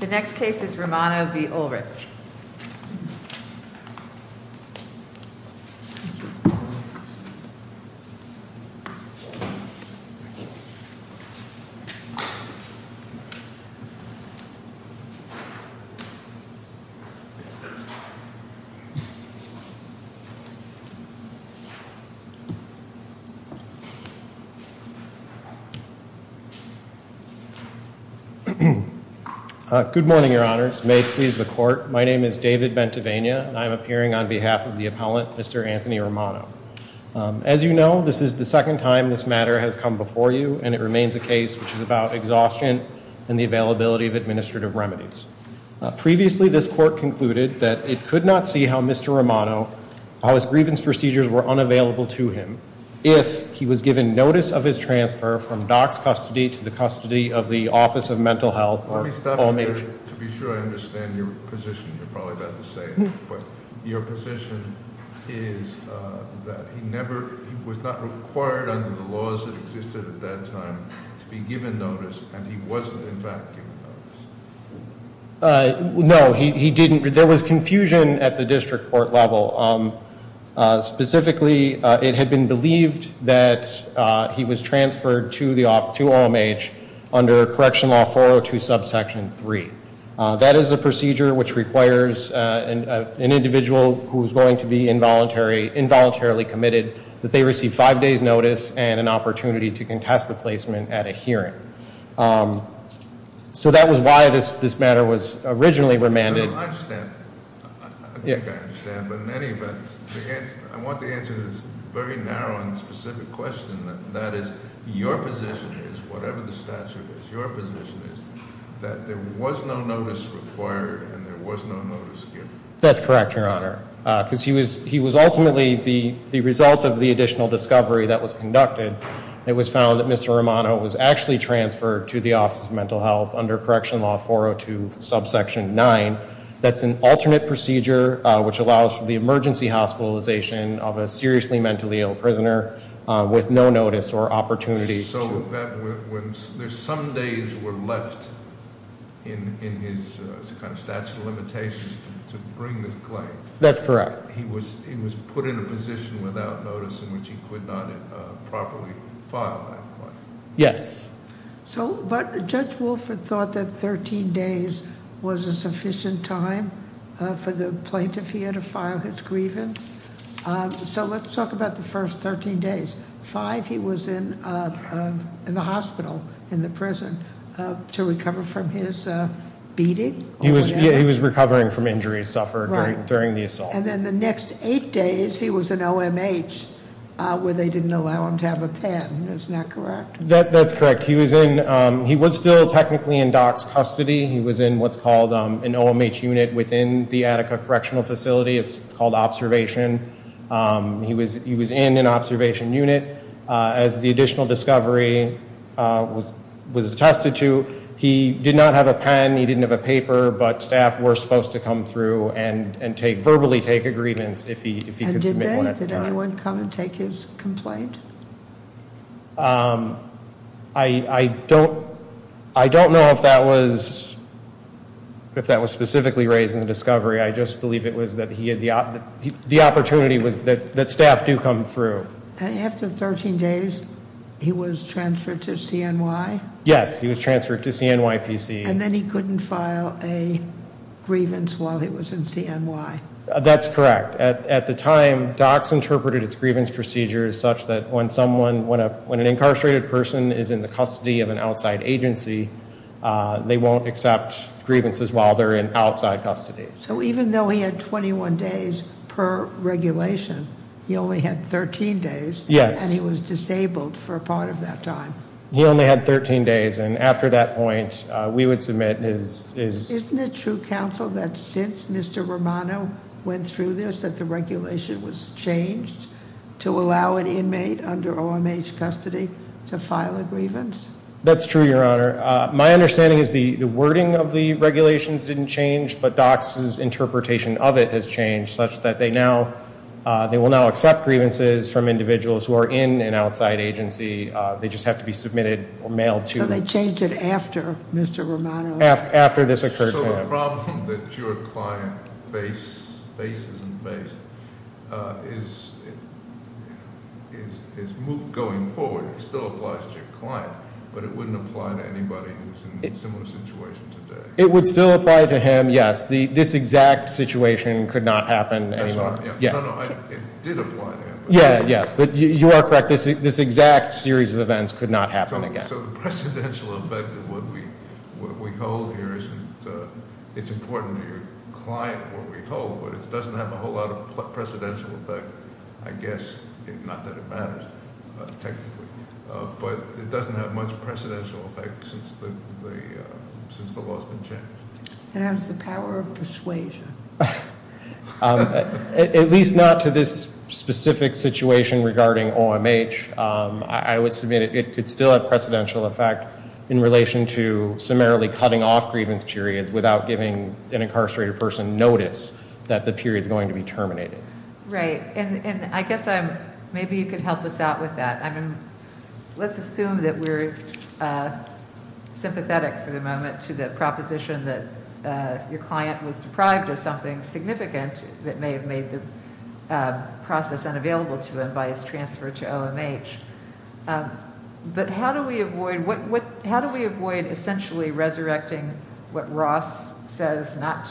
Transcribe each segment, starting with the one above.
The Good morning, your honors. May it please the court, my name is David Bentivenia and I am appearing on behalf of the appellant, Mr. Anthony Romano. As you know, this is the second time this matter has come before you and it remains a case which is about exhaustion and the availability of administrative remedies. Previously this court concluded that it could not see how Mr. Romano, how his grievance procedures were unavailable to him if he was given notice of his transfer from Doc's custody to the custody of the Office of Mental Health, or OMH. Let me stop you there to be sure I understand your position, you're probably about the same, but your position is that he never, he was not required under the laws that existed at that time to be given notice and he wasn't in fact given notice. No, he didn't, there was confusion at the district court level, specifically it had been believed that he was transferred to OMH under correction law 402 subsection 3. That is a procedure which requires an individual who is going to be involuntarily committed that they receive five days notice and an opportunity to contest the placement at a hearing. So that was why this matter was originally remanded. I think I understand, but in any event, I want the answer that's very narrow and specific question, that is your position is, whatever the statute is, your position is that there was no notice required and there was no notice given. That's correct, Your Honor. Because he was ultimately the result of the additional discovery that was conducted. It was found that Mr. Romano was actually transferred to the Office of Mental Health under correction law 402 subsection 9, that's an alternate procedure which allows for the emergency hospitalization of a seriously mentally ill prisoner with no notice or opportunity. So there's some days were left in his kind of statute of limitations to bring this claim. That's correct. He was put in a position without notice in which he could not properly file that claim. Yes. But Judge Wolford thought that 13 days was a sufficient time for the plaintiff here to file his grievance. So let's talk about the first 13 days. Five, he was in the hospital, in the prison, to recover from his beating. He was recovering from injuries suffered during the assault. And then the next eight days, he was in OMH where they didn't allow him to have a pen. Isn't that correct? That's correct. He was still technically in doc's custody. He was in what's called an OMH unit within the Attica Correctional Facility. It's called observation. He was in an observation unit. As the additional discovery was attested to, he did not have a pen. He didn't have a paper. But staff were supposed to come through and verbally take agreements if he could submit one at a time. Did anyone come and take his complaint? I don't know if that was specifically raised in the discovery. I just believe it was that the opportunity was that staff do come through. After 13 days, he was transferred to CNY? Yes, he was transferred to CNY PC. And then he couldn't file a grievance while he was in CNY? That's correct. At the time, docs interpreted its grievance procedures such that when someone, when an incarcerated person is in the custody of an outside agency, they won't accept grievances while they're in outside custody. So even though he had 21 days per regulation, he only had 13 days? Yes. And he was disabled for a part of that time? He only had 13 days. And after that point, we would submit his- That the regulation was changed to allow an inmate under OMH custody to file a grievance? That's true, Your Honor. My understanding is the wording of the regulations didn't change, but docs' interpretation of it has changed such that they now, they will now accept grievances from individuals who are in an outside agency. They just have to be submitted or mailed to- So they changed it after Mr. Romano- After this occurred. So the problem that your client faces and faced is going forward. It still applies to your client, but it wouldn't apply to anybody who's in a similar situation today. It would still apply to him, yes. This exact situation could not happen anymore. No, no, it did apply to him. Yeah, yes, but you are correct. This exact series of events could not happen again. So the precedential effect of what we hold here isn't, it's important to your client what we hold, but it doesn't have a whole lot of precedential effect. I guess, not that it matters, technically. But it doesn't have much precedential effect since the law's been changed. And how's the power of persuasion? At least not to this specific situation regarding OMH. I would submit it could still have precedential effect in relation to summarily cutting off grievance periods without giving an incarcerated person notice that the period's going to be terminated. Right. And I guess maybe you could help us out with that. Let's assume that we're sympathetic for the moment to the proposition that your client was deprived of something significant that may have made the transfer to OMH. But how do we avoid essentially resurrecting what Ross says not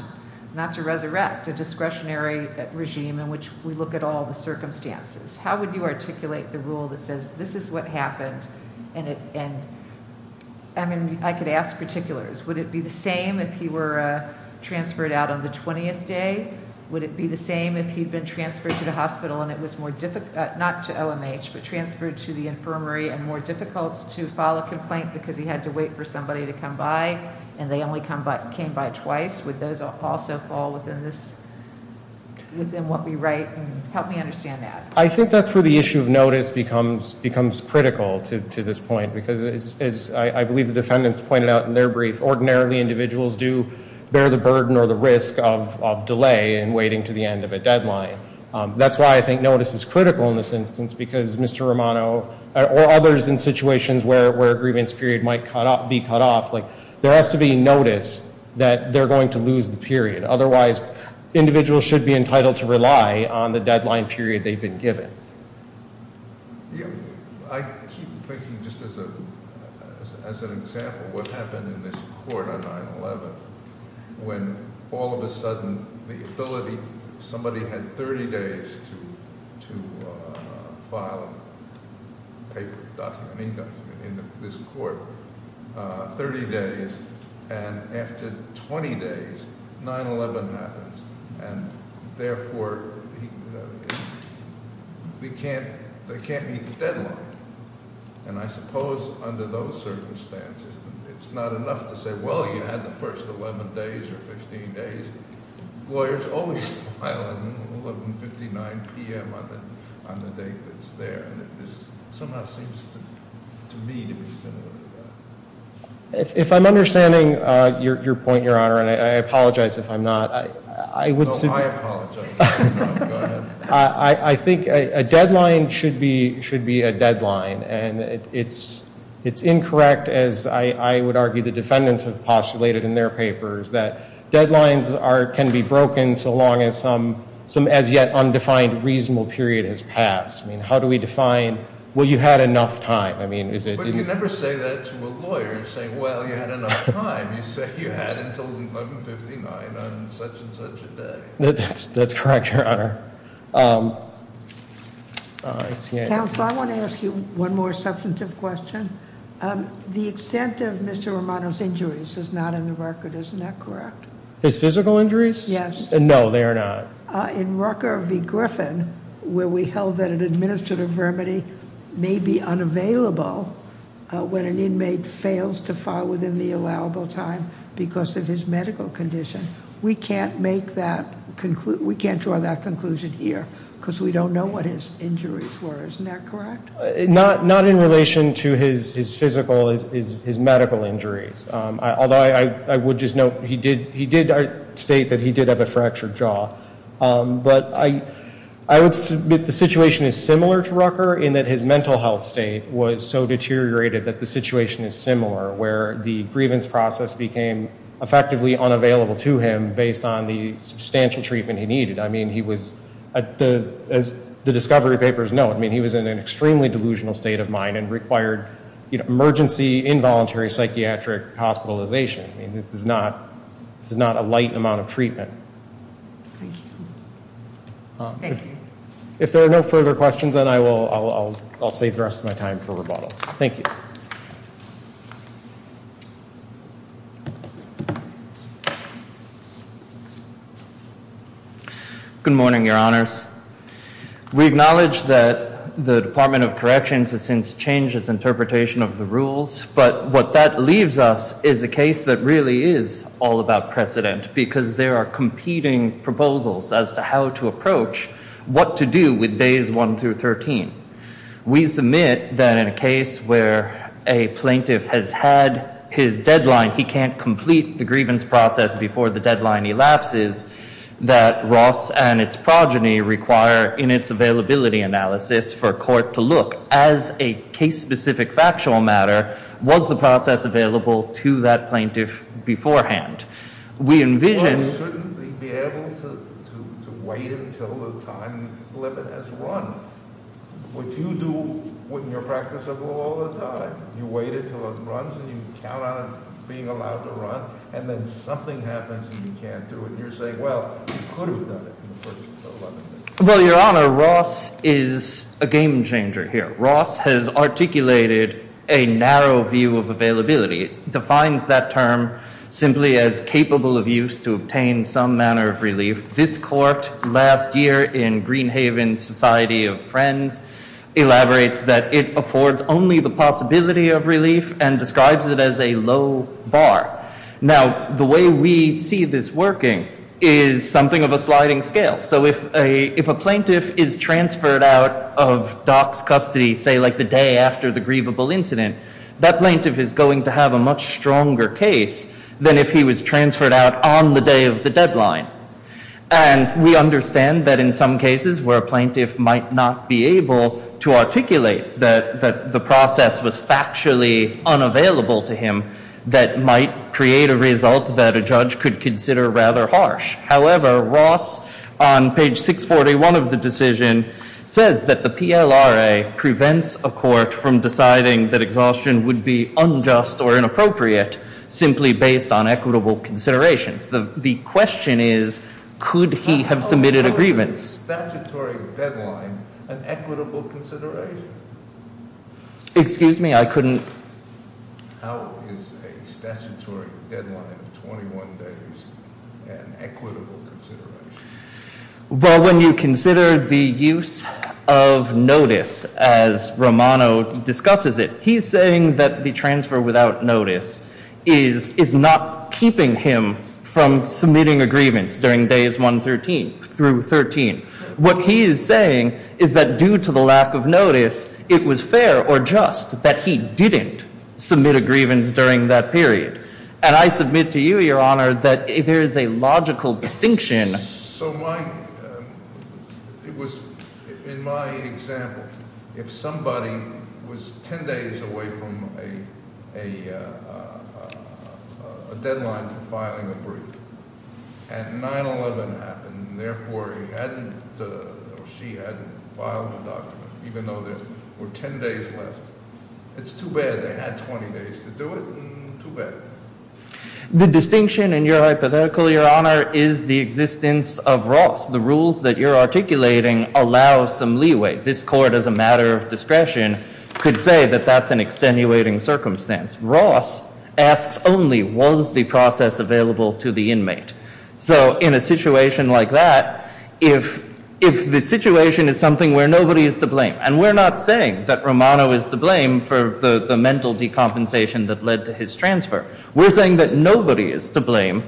to resurrect, a discretionary regime in which we look at all the circumstances? How would you articulate the rule that says this is what happened? I mean, I could ask particulars. Would it be the same if he were transferred out on the 20th day? Would it be the same if he'd been transferred to the hospital and it was more difficult, not to OMH, but transferred to the infirmary and more difficult to file a complaint because he had to wait for somebody to come by and they only came by twice? Would those also fall within what we write? Help me understand that. I think that's where the issue of notice becomes critical to this point. Because as I believe the defendants pointed out in their brief, ordinarily individuals do bear the burden or the risk of delay in waiting to the end of a deadline. That's why I think notice is critical in this instance because Mr. Romano, or others in situations where a grievance period might be cut off, there has to be notice that they're going to lose the period. Otherwise, individuals should be entitled to rely on the deadline period they've been given. I keep thinking just as an example what happened in this court on 9-11 when all of a sudden the ability, somebody had 30 days to file a document in this court, 30 days, and after 20 days 9-11 happens. Therefore, there can't be a deadline. I suppose under those circumstances, it's not enough to say, well, you had the first 11 days or 15 days. Lawyers always file at 11.59 p.m. on the date that's there. This somehow seems to me to be similar to that. If I'm understanding your point, Your Honor, and I apologize if I'm not. No, I apologize. I think a deadline should be a deadline, and it's incorrect, as I would argue the defendants have postulated in their papers, that deadlines can be broken so long as some as-yet-undefined reasonable period has passed. I mean, how do we define, well, you had enough time. But you never say that to a lawyer, saying, well, you had enough time. You say you had until 11.59 on such and such a day. That's correct, Your Honor. Counsel, I want to ask you one more substantive question. The extent of Mr. Romano's injuries is not in the record, isn't that correct? His physical injuries? Yes. No, they are not. In Rucker v. Griffin, where we held that an administrative remedy may be unavailable when an inmate fails to file within the allowable time because of his medical condition, we can't draw that conclusion here because we don't know what his injuries were. Isn't that correct? Not in relation to his physical, his medical injuries, although I would just note he did state that he did have a fractured jaw. But I would submit the situation is similar to Rucker in that his mental health state was so deteriorated that the situation is similar where the grievance process became effectively unavailable to him based on the substantial treatment he needed. I mean, he was, as the discovery papers note, I mean, he was in an extremely delusional state of mind and required emergency involuntary psychiatric hospitalization. I mean, this is not a light amount of treatment. Thank you. If there are no further questions, then I will save the rest of my time for rebuttal. Thank you. Good morning, your honors. We acknowledge that the Department of Corrections has since changed its interpretation of the rules, but what that leaves us is a case that really is all about precedent because there are competing proposals as to how to approach what to do with days 1 through 13. We submit that in a case where a plaintiff has had his deadline, he can't complete the grievance process before the deadline elapses, that Ross and its progeny require in its availability analysis for court to look as a case-specific factual matter, was the process available to that plaintiff beforehand? We envision- Well, he shouldn't be able to wait until the time limit has run. What you do in your practice of law all the time, you wait until it runs and you count on it being allowed to run, and then something happens and you can't do it. And you're saying, well, you could have done it. Well, your honor, Ross is a game changer here. Ross has articulated a narrow view of availability. It defines that term simply as capable of use to obtain some manner of relief. This court last year in Greenhaven Society of Friends elaborates that it affords only the possibility of relief and describes it as a low bar. Now, the way we see this working is something of a sliding scale. So if a plaintiff is transferred out of Doc's custody, say, like the day after the grievable incident, that plaintiff is going to have a much stronger case than if he was transferred out on the day of the deadline. And we understand that in some cases where a plaintiff might not be able to articulate that the process was factually unavailable to him that might create a result that a judge could consider rather harsh. However, Ross, on page 641 of the decision, says that the PLRA prevents a court from deciding that exhaustion would be unjust or inappropriate simply based on equitable considerations. The question is, could he have submitted a grievance? Is a statutory deadline an equitable consideration? Excuse me, I couldn't. How is a statutory deadline of 21 days an equitable consideration? Well, when you consider the use of notice, as Romano discusses it, he's saying that the transfer without notice is not keeping him from submitting a grievance during days 1 through 13. What he is saying is that due to the lack of notice, it was fair or just that he didn't submit a grievance during that period. And I submit to you, Your Honor, that there is a logical distinction. So in my example, if somebody was 10 days away from a deadline for filing a brief, and 9-11 happened, and therefore he hadn't or she hadn't filed a document, even though there were 10 days left, it's too bad. They had 20 days to do it, and too bad. The distinction in your hypothetical, Your Honor, is the existence of Ross. The rules that you're articulating allow some leeway. This court, as a matter of discretion, could say that that's an extenuating circumstance. Ross asks only, was the process available to the inmate? So in a situation like that, if the situation is something where nobody is to blame, and we're not saying that Romano is to blame for the mental decompensation that led to his transfer. We're saying that nobody is to blame,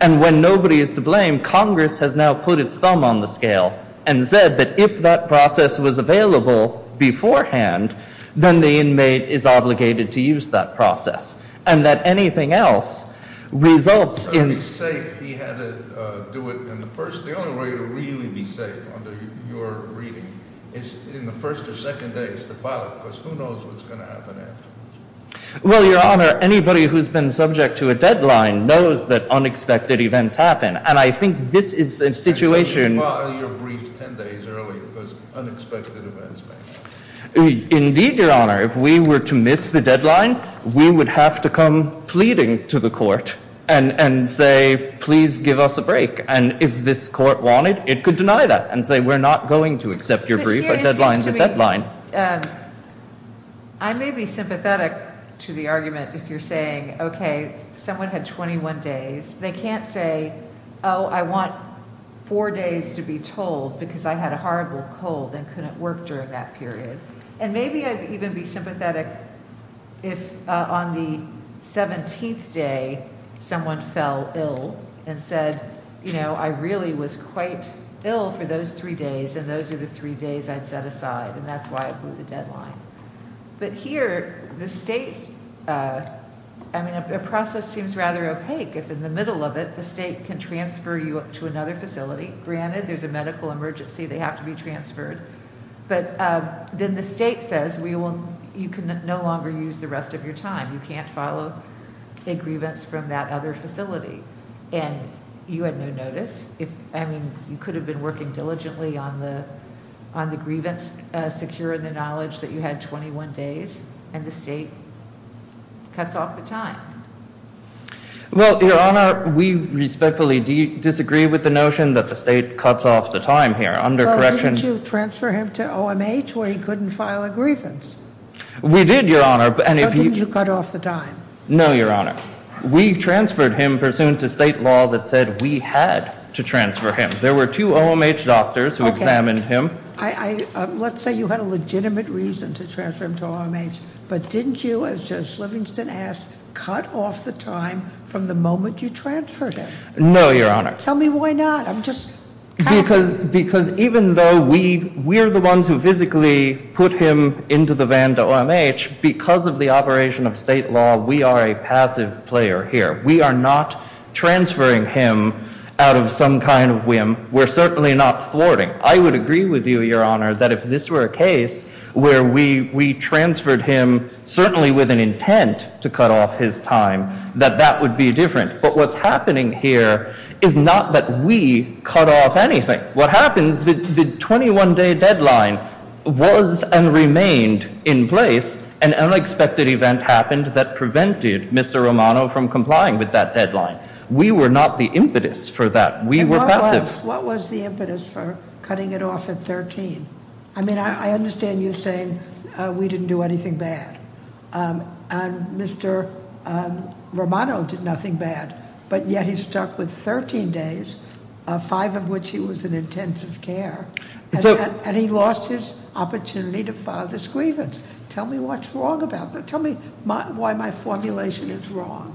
and when nobody is to blame, Congress has now put its thumb on the scale and said that if that process was available beforehand, then the inmate is obligated to use that process, and that anything else results in- The only way to really be safe under your reading is in the first or second days to file it, because who knows what's going to happen afterwards. Well, Your Honor, anybody who's been subject to a deadline knows that unexpected events happen, and I think this is a situation- So you file your brief 10 days early because unexpected events may happen. Indeed, Your Honor, if we were to miss the deadline, we would have to come pleading to the court and say, please give us a break, and if this court wanted, it could deny that and say, we're not going to accept your brief at deadline to deadline. I may be sympathetic to the argument if you're saying, okay, someone had 21 days. They can't say, oh, I want four days to be told because I had a horrible cold and couldn't work during that period, and maybe I'd even be sympathetic if on the 17th day someone fell ill and said, you know, I really was quite ill for those three days, and those are the three days I'd set aside, and that's why I blew the deadline. But here, the state-I mean, a process seems rather opaque if in the middle of it, the state can transfer you to another facility. Granted, there's a medical emergency. They have to be transferred, but then the state says you can no longer use the rest of your time. You can't follow a grievance from that other facility, and you had no notice. I mean, you could have been working diligently on the grievance secure in the knowledge that you had 21 days, and the state cuts off the time. Well, Your Honor, we respectfully disagree with the notion that the state cuts off the time here. Well, didn't you transfer him to OMH where he couldn't file a grievance? We did, Your Honor. But didn't you cut off the time? No, Your Honor. We transferred him pursuant to state law that said we had to transfer him. There were two OMH doctors who examined him. Let's say you had a legitimate reason to transfer him to OMH, but didn't you, as Judge Livingston asked, cut off the time from the moment you transferred him? No, Your Honor. Tell me why not. I'm just- Because even though we're the ones who physically put him into the van to OMH, because of the operation of state law, we are a passive player here. We are not transferring him out of some kind of whim. We're certainly not thwarting. I would agree with you, Your Honor, that if this were a case where we transferred him certainly with an intent to cut off his time, that that would be different. But what's happening here is not that we cut off anything. What happens, the 21-day deadline was and remained in place. An unexpected event happened that prevented Mr. Romano from complying with that deadline. We were not the impetus for that. We were passive. What was the impetus for cutting it off at 13? I mean, I understand you saying we didn't do anything bad, and Mr. Romano did nothing bad, but yet he stuck with 13 days, five of which he was in intensive care, and he lost his opportunity to file this grievance. Tell me what's wrong about that. Tell me why my formulation is wrong.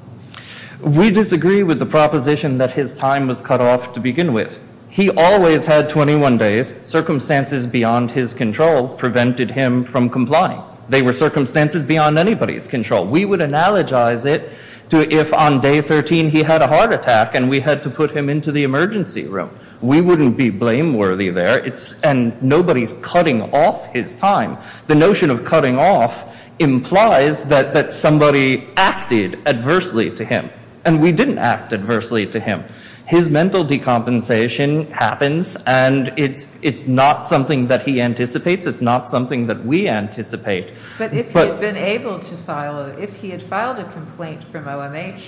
We disagree with the proposition that his time was cut off to begin with. He always had 21 days. Circumstances beyond his control prevented him from complying. They were circumstances beyond anybody's control. We would analogize it to if on day 13 he had a heart attack and we had to put him into the emergency room. We wouldn't be blameworthy there, and nobody's cutting off his time. The notion of cutting off implies that somebody acted adversely to him, and we didn't act adversely to him. His mental decompensation happens, and it's not something that he anticipates. It's not something that we anticipate. But if he had been able to file it, if he had filed a complaint from OMH,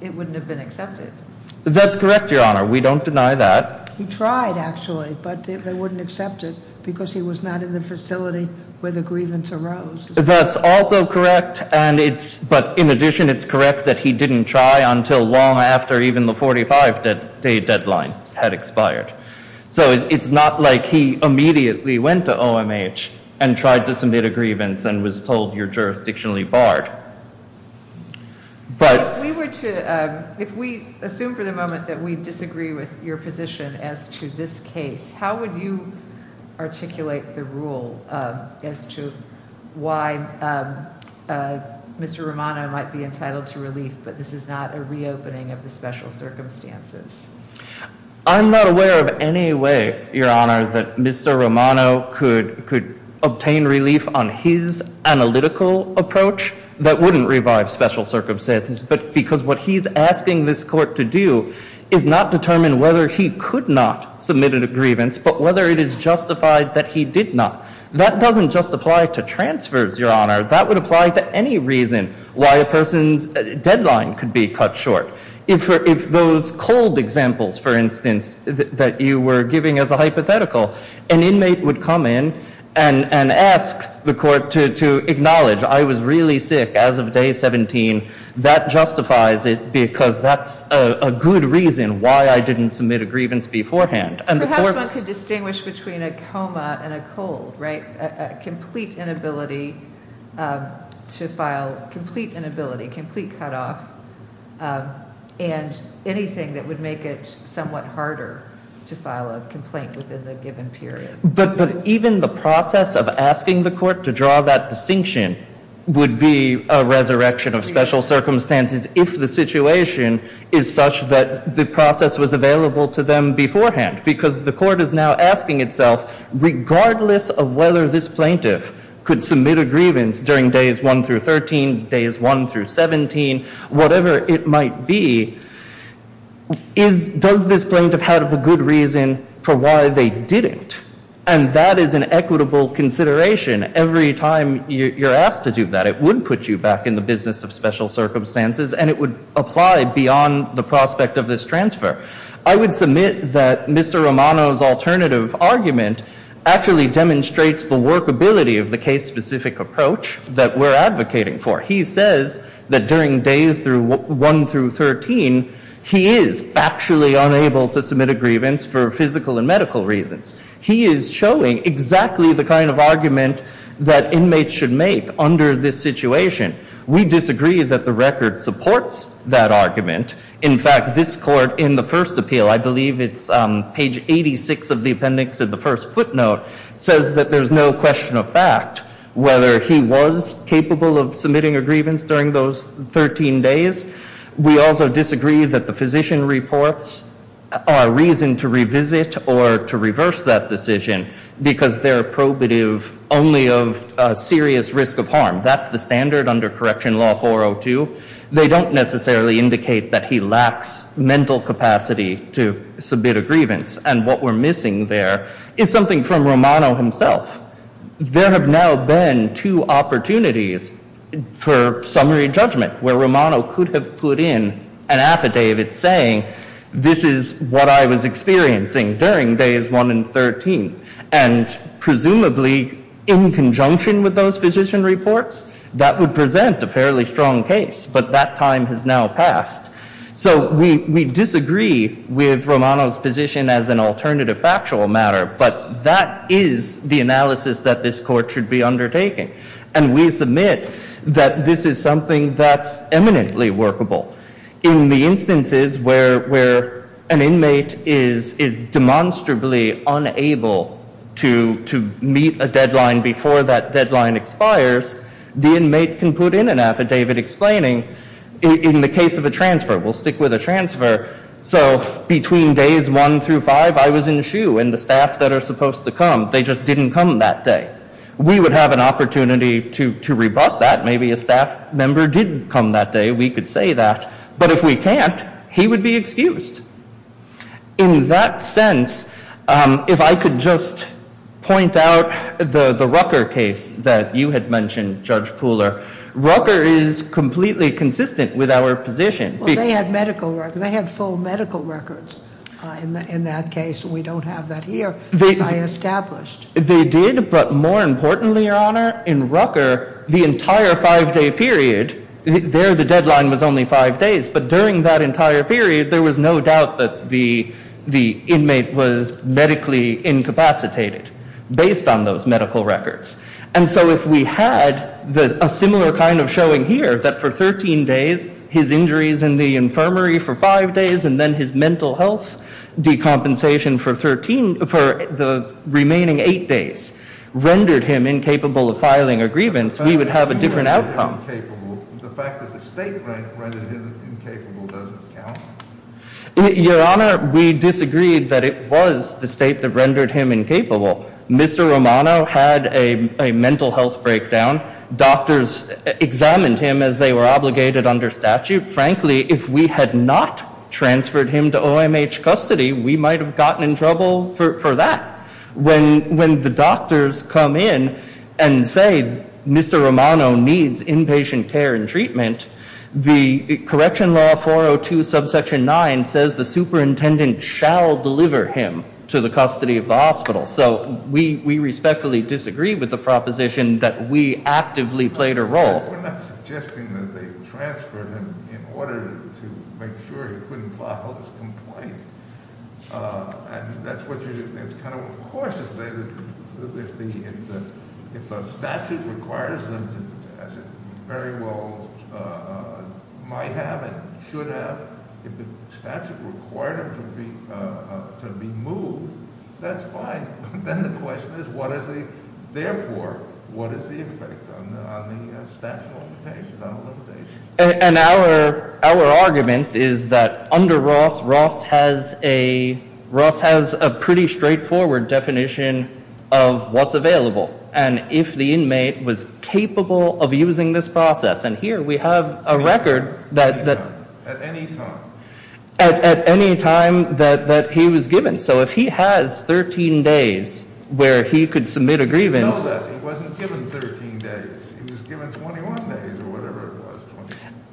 it wouldn't have been accepted. That's correct, Your Honor. We don't deny that. He tried, actually, but they wouldn't accept it because he was not in the facility where the grievance arose. That's also correct, but in addition, it's correct that he didn't try until long after even the 45-day deadline had expired. So it's not like he immediately went to OMH and tried to submit a grievance and was told you're jurisdictionally barred. If we assume for the moment that we disagree with your position as to this case, how would you articulate the rule as to why Mr. Romano might be entitled to relief, but this is not a reopening of the special circumstances? I'm not aware of any way, Your Honor, that Mr. Romano could obtain relief on his analytical approach that wouldn't revive special circumstances because what he's asking this court to do is not determine whether he could not submit a grievance, but whether it is justified that he did not. That doesn't just apply to transfers, Your Honor. That would apply to any reason why a person's deadline could be cut short. If those cold examples, for instance, that you were giving as a hypothetical, an inmate would come in and ask the court to acknowledge I was really sick as of day 17. That justifies it because that's a good reason why I didn't submit a grievance beforehand. Perhaps one could distinguish between a coma and a cold, right? To file complete inability, complete cutoff, and anything that would make it somewhat harder to file a complaint within the given period. But even the process of asking the court to draw that distinction would be a resurrection of special circumstances if the situation is such that the process was available to them beforehand because the court is now asking itself regardless of whether this plaintiff could submit a grievance during days 1 through 13, days 1 through 17, whatever it might be, does this plaintiff have a good reason for why they didn't? And that is an equitable consideration. Every time you're asked to do that, it would put you back in the business of special circumstances and it would apply beyond the prospect of this transfer. I would submit that Mr. Romano's alternative argument actually demonstrates the workability of the case-specific approach that we're advocating for. He says that during days 1 through 13, he is factually unable to submit a grievance for physical and medical reasons. He is showing exactly the kind of argument that inmates should make under this situation. We disagree that the record supports that argument. In fact, this court in the first appeal, I believe it's page 86 of the appendix of the first footnote, says that there's no question of fact whether he was capable of submitting a grievance during those 13 days. We also disagree that the physician reports are reason to revisit or to reverse that decision because they're probative only of serious risk of harm. That's the standard under Correction Law 402. They don't necessarily indicate that he lacks mental capacity to submit a grievance and what we're missing there is something from Romano himself. There have now been two opportunities for summary judgment where Romano could have put in an affidavit saying, this is what I was experiencing during days 1 and 13 and presumably in conjunction with those physician reports, that would present a fairly strong case, but that time has now passed. So we disagree with Romano's position as an alternative factual matter, but that is the analysis that this court should be undertaking and we submit that this is something that's eminently workable. In the instances where an inmate is demonstrably unable to meet a deadline before that deadline expires, the inmate can put in an affidavit explaining, in the case of a transfer, we'll stick with a transfer, so between days 1 through 5, I was in shoe and the staff that are supposed to come, they just didn't come that day. We would have an opportunity to rebut that, maybe a staff member did come that day, we could say that, but if we can't, he would be excused. In that sense, if I could just point out the Rucker case that you had mentioned, Judge Pooler, Rucker is completely consistent with our position. Well, they had medical records. They had full medical records in that case. We don't have that here, as I established. They did, but more importantly, Your Honor, in Rucker, the entire five-day period, there the deadline was only five days, but during that entire period, there was no doubt that the inmate was medically incapacitated based on those medical records. And so if we had a similar kind of showing here, that for 13 days, his injuries in the infirmary for five days and then his mental health decompensation for the remaining eight days rendered him incapable of filing a grievance, we would have a different outcome. The fact that the state rendered him incapable doesn't count? Your Honor, we disagreed that it was the state that rendered him incapable. Mr. Romano had a mental health breakdown. Doctors examined him as they were obligated under statute. Frankly, if we had not transferred him to OMH custody, we might have gotten in trouble for that. When the doctors come in and say Mr. Romano needs inpatient care and treatment, the correction law 402 subsection 9 says the superintendent shall deliver him to the custody of the hospital. So we respectfully disagree with the proposition that we actively played a role. We're not suggesting that they transferred him in order to make sure he couldn't file his complaint. And that's what you're doing. It's kind of, of course, if the statute requires them to, as it very well might have and should have, if the statute required him to be moved, that's fine. Then the question is, therefore, what is the effect on the statute of limitations? And our argument is that under Ross, Ross has a pretty straightforward definition of what's available. And if the inmate was capable of using this process. And here we have a record that- At any time. At any time that he was given. So if he has 13 days where he could submit a grievance- No, he wasn't given 13 days. He was given 21 days or whatever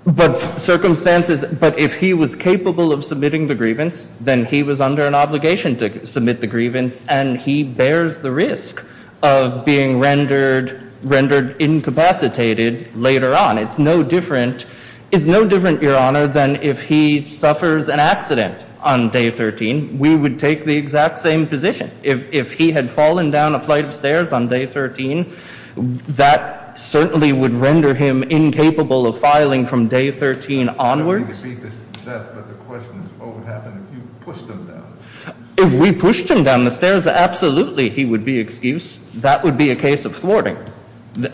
it was. But circumstances, but if he was capable of submitting the grievance, then he was under an obligation to submit the grievance. And he bears the risk of being rendered incapacitated later on. It's no different. It's no different, Your Honor, than if he suffers an accident on day 13. We would take the exact same position. If he had fallen down a flight of stairs on day 13, that certainly would render him incapable of filing from day 13 onwards. I don't mean to beat this to death, but the question is, what would happen if you pushed him down? If we pushed him down the stairs, absolutely he would be excused. That would be a case of thwarting.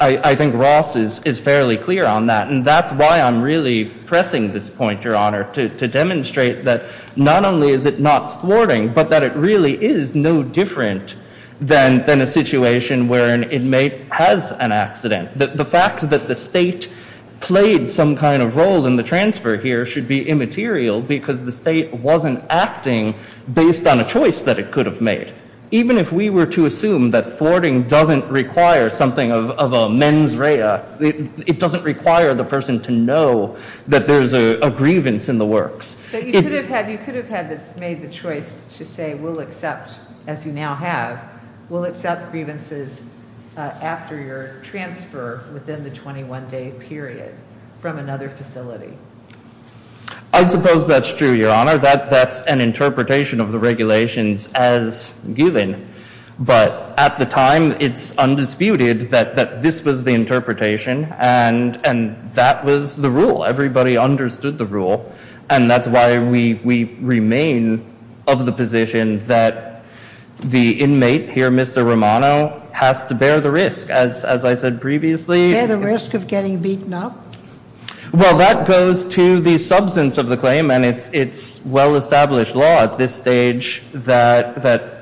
I think Ross is fairly clear on that. And that's why I'm really pressing this point, Your Honor, to demonstrate that not only is it not thwarting, but that it really is no different than a situation where an inmate has an accident. The fact that the state played some kind of role in the transfer here should be immaterial because the state wasn't acting based on a choice that it could have made. Even if we were to assume that thwarting doesn't require something of a mens rea, it doesn't require the person to know that there's a grievance in the works. But you could have made the choice to say we'll accept, as you now have, we'll accept grievances after your transfer within the 21-day period from another facility. I suppose that's true, Your Honor. That's an interpretation of the regulations as given. But at the time, it's undisputed that this was the interpretation, and that was the rule. Everybody understood the rule. And that's why we remain of the position that the inmate here, Mr. Romano, has to bear the risk. As I said previously- Bear the risk of getting beaten up? Well, that goes to the substance of the claim, and it's well-established law at this stage that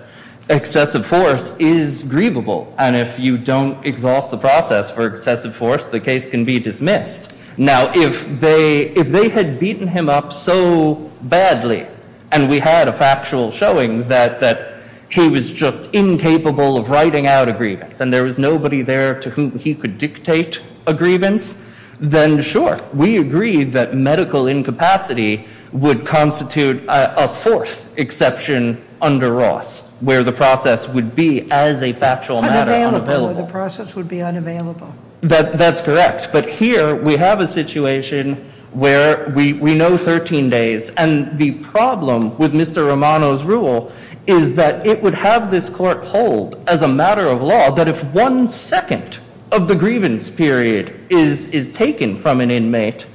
excessive force is grievable. And if you don't exhaust the process for excessive force, the case can be dismissed. Now, if they had beaten him up so badly and we had a factual showing that he was just incapable of writing out a grievance and there was nobody there to whom he could dictate a grievance, then sure, we agree that medical incapacity would constitute a fourth exception under Ross, where the process would be as a factual matter unavailable. Unavailable, where the process would be unavailable. That's correct. But here we have a situation where we know 13 days, and the problem with Mr. Romano's rule is that it would have this court hold as a matter of law that if one second of the grievance period is taken from an inmate,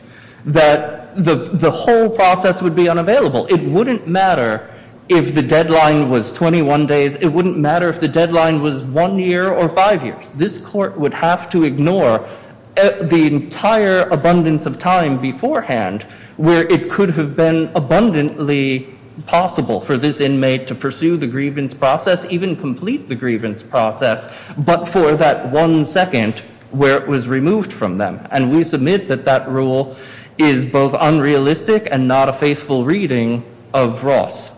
that the whole process would be unavailable. It wouldn't matter if the deadline was 21 days. It wouldn't matter if the deadline was one year or five years. This court would have to ignore the entire abundance of time beforehand where it could have been abundantly possible for this inmate to pursue the grievance process, or perhaps even complete the grievance process, but for that one second where it was removed from them. And we submit that that rule is both unrealistic and not a faithful reading of Ross.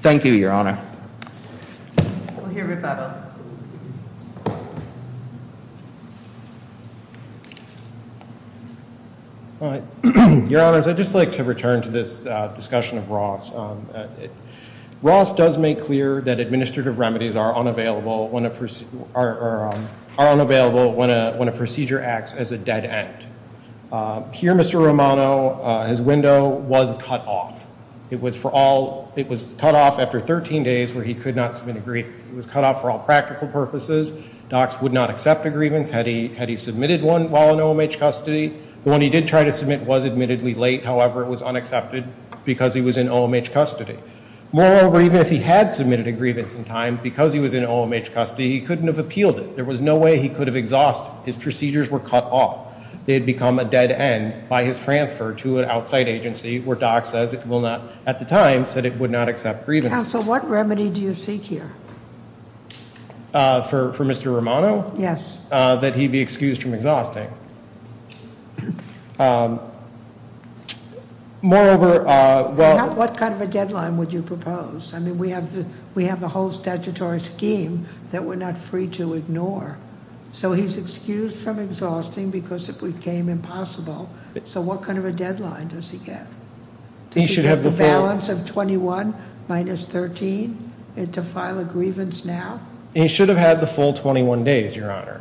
Thank you, Your Honor. We'll hear with Adam. Your Honors, I'd just like to return to this discussion of Ross. Ross does make clear that administrative remedies are unavailable when a procedure acts as a dead end. Here, Mr. Romano, his window was cut off. It was cut off after 13 days where he could not submit a grievance. It was cut off for all practical purposes. Docs would not accept a grievance had he submitted one while in OMH custody. The one he did try to submit was admittedly late. However, it was unaccepted because he was in OMH custody. Moreover, even if he had submitted a grievance in time, because he was in OMH custody, he couldn't have appealed it. There was no way he could have exhausted it. His procedures were cut off. They had become a dead end by his transfer to an outside agency where Docs at the time said it would not accept grievances. Counsel, what remedy do you seek here? For Mr. Romano? Yes. That he be excused from exhausting. Moreover, well- What kind of a deadline would you propose? I mean, we have the whole statutory scheme that we're not free to ignore. So he's excused from exhausting because it became impossible. So what kind of a deadline does he get? He should have the full- Does he get the balance of 21 minus 13 to file a grievance now? He should have had the full 21 days, Your Honor.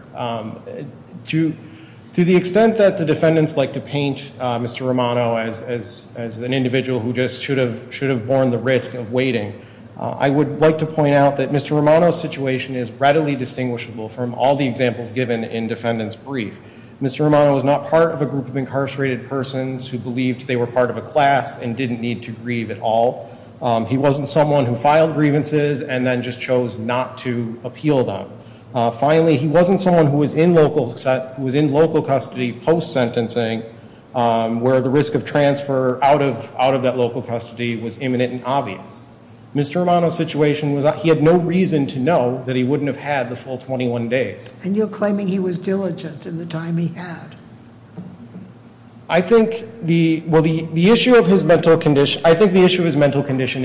To the extent that the defendants like to paint Mr. Romano as an individual who just should have borne the risk of waiting, I would like to point out that Mr. Romano's situation is readily distinguishable from all the examples given in defendant's brief. Mr. Romano was not part of a group of incarcerated persons who believed they were part of a class and didn't need to grieve at all. He wasn't someone who filed grievances and then just chose not to appeal them. Finally, he wasn't someone who was in local custody post-sentencing where the risk of transfer out of that local custody was imminent and obvious. Mr. Romano's situation was that he had no reason to know that he wouldn't have had the full 21 days. And you're claiming he was diligent in the time he had. I think the issue of his mental condition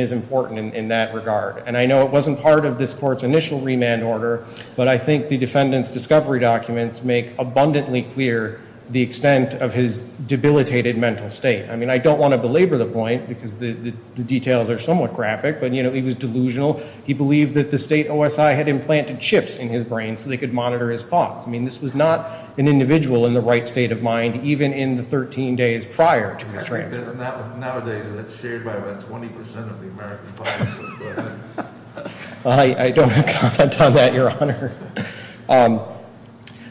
is important in that regard. And I know it wasn't part of this court's initial remand order, but I think the defendant's discovery documents make abundantly clear the extent of his debilitated mental state. I mean, I don't want to belabor the point because the details are somewhat graphic, but, you know, he was delusional. He believed that the state OSI had implanted chips in his brain so they could monitor his thoughts. I mean, this was not an individual in the right state of mind, even in the 13 days prior to his transfer. Nowadays, that's shared by about 20 percent of the American population. I don't have comment on that, Your Honor.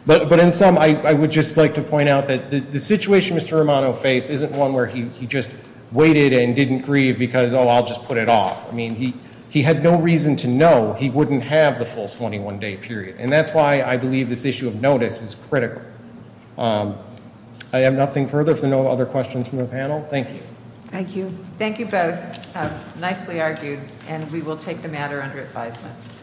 But in sum, I would just like to point out that the situation Mr. Romano faced isn't one where he just waited and didn't grieve because, oh, I'll just put it off. I mean, he had no reason to know he wouldn't have the full 21-day period. And that's why I believe this issue of notice is critical. I have nothing further for no other questions from the panel. Thank you. Thank you. Thank you both. Nicely argued. And we will take the matter under advisement.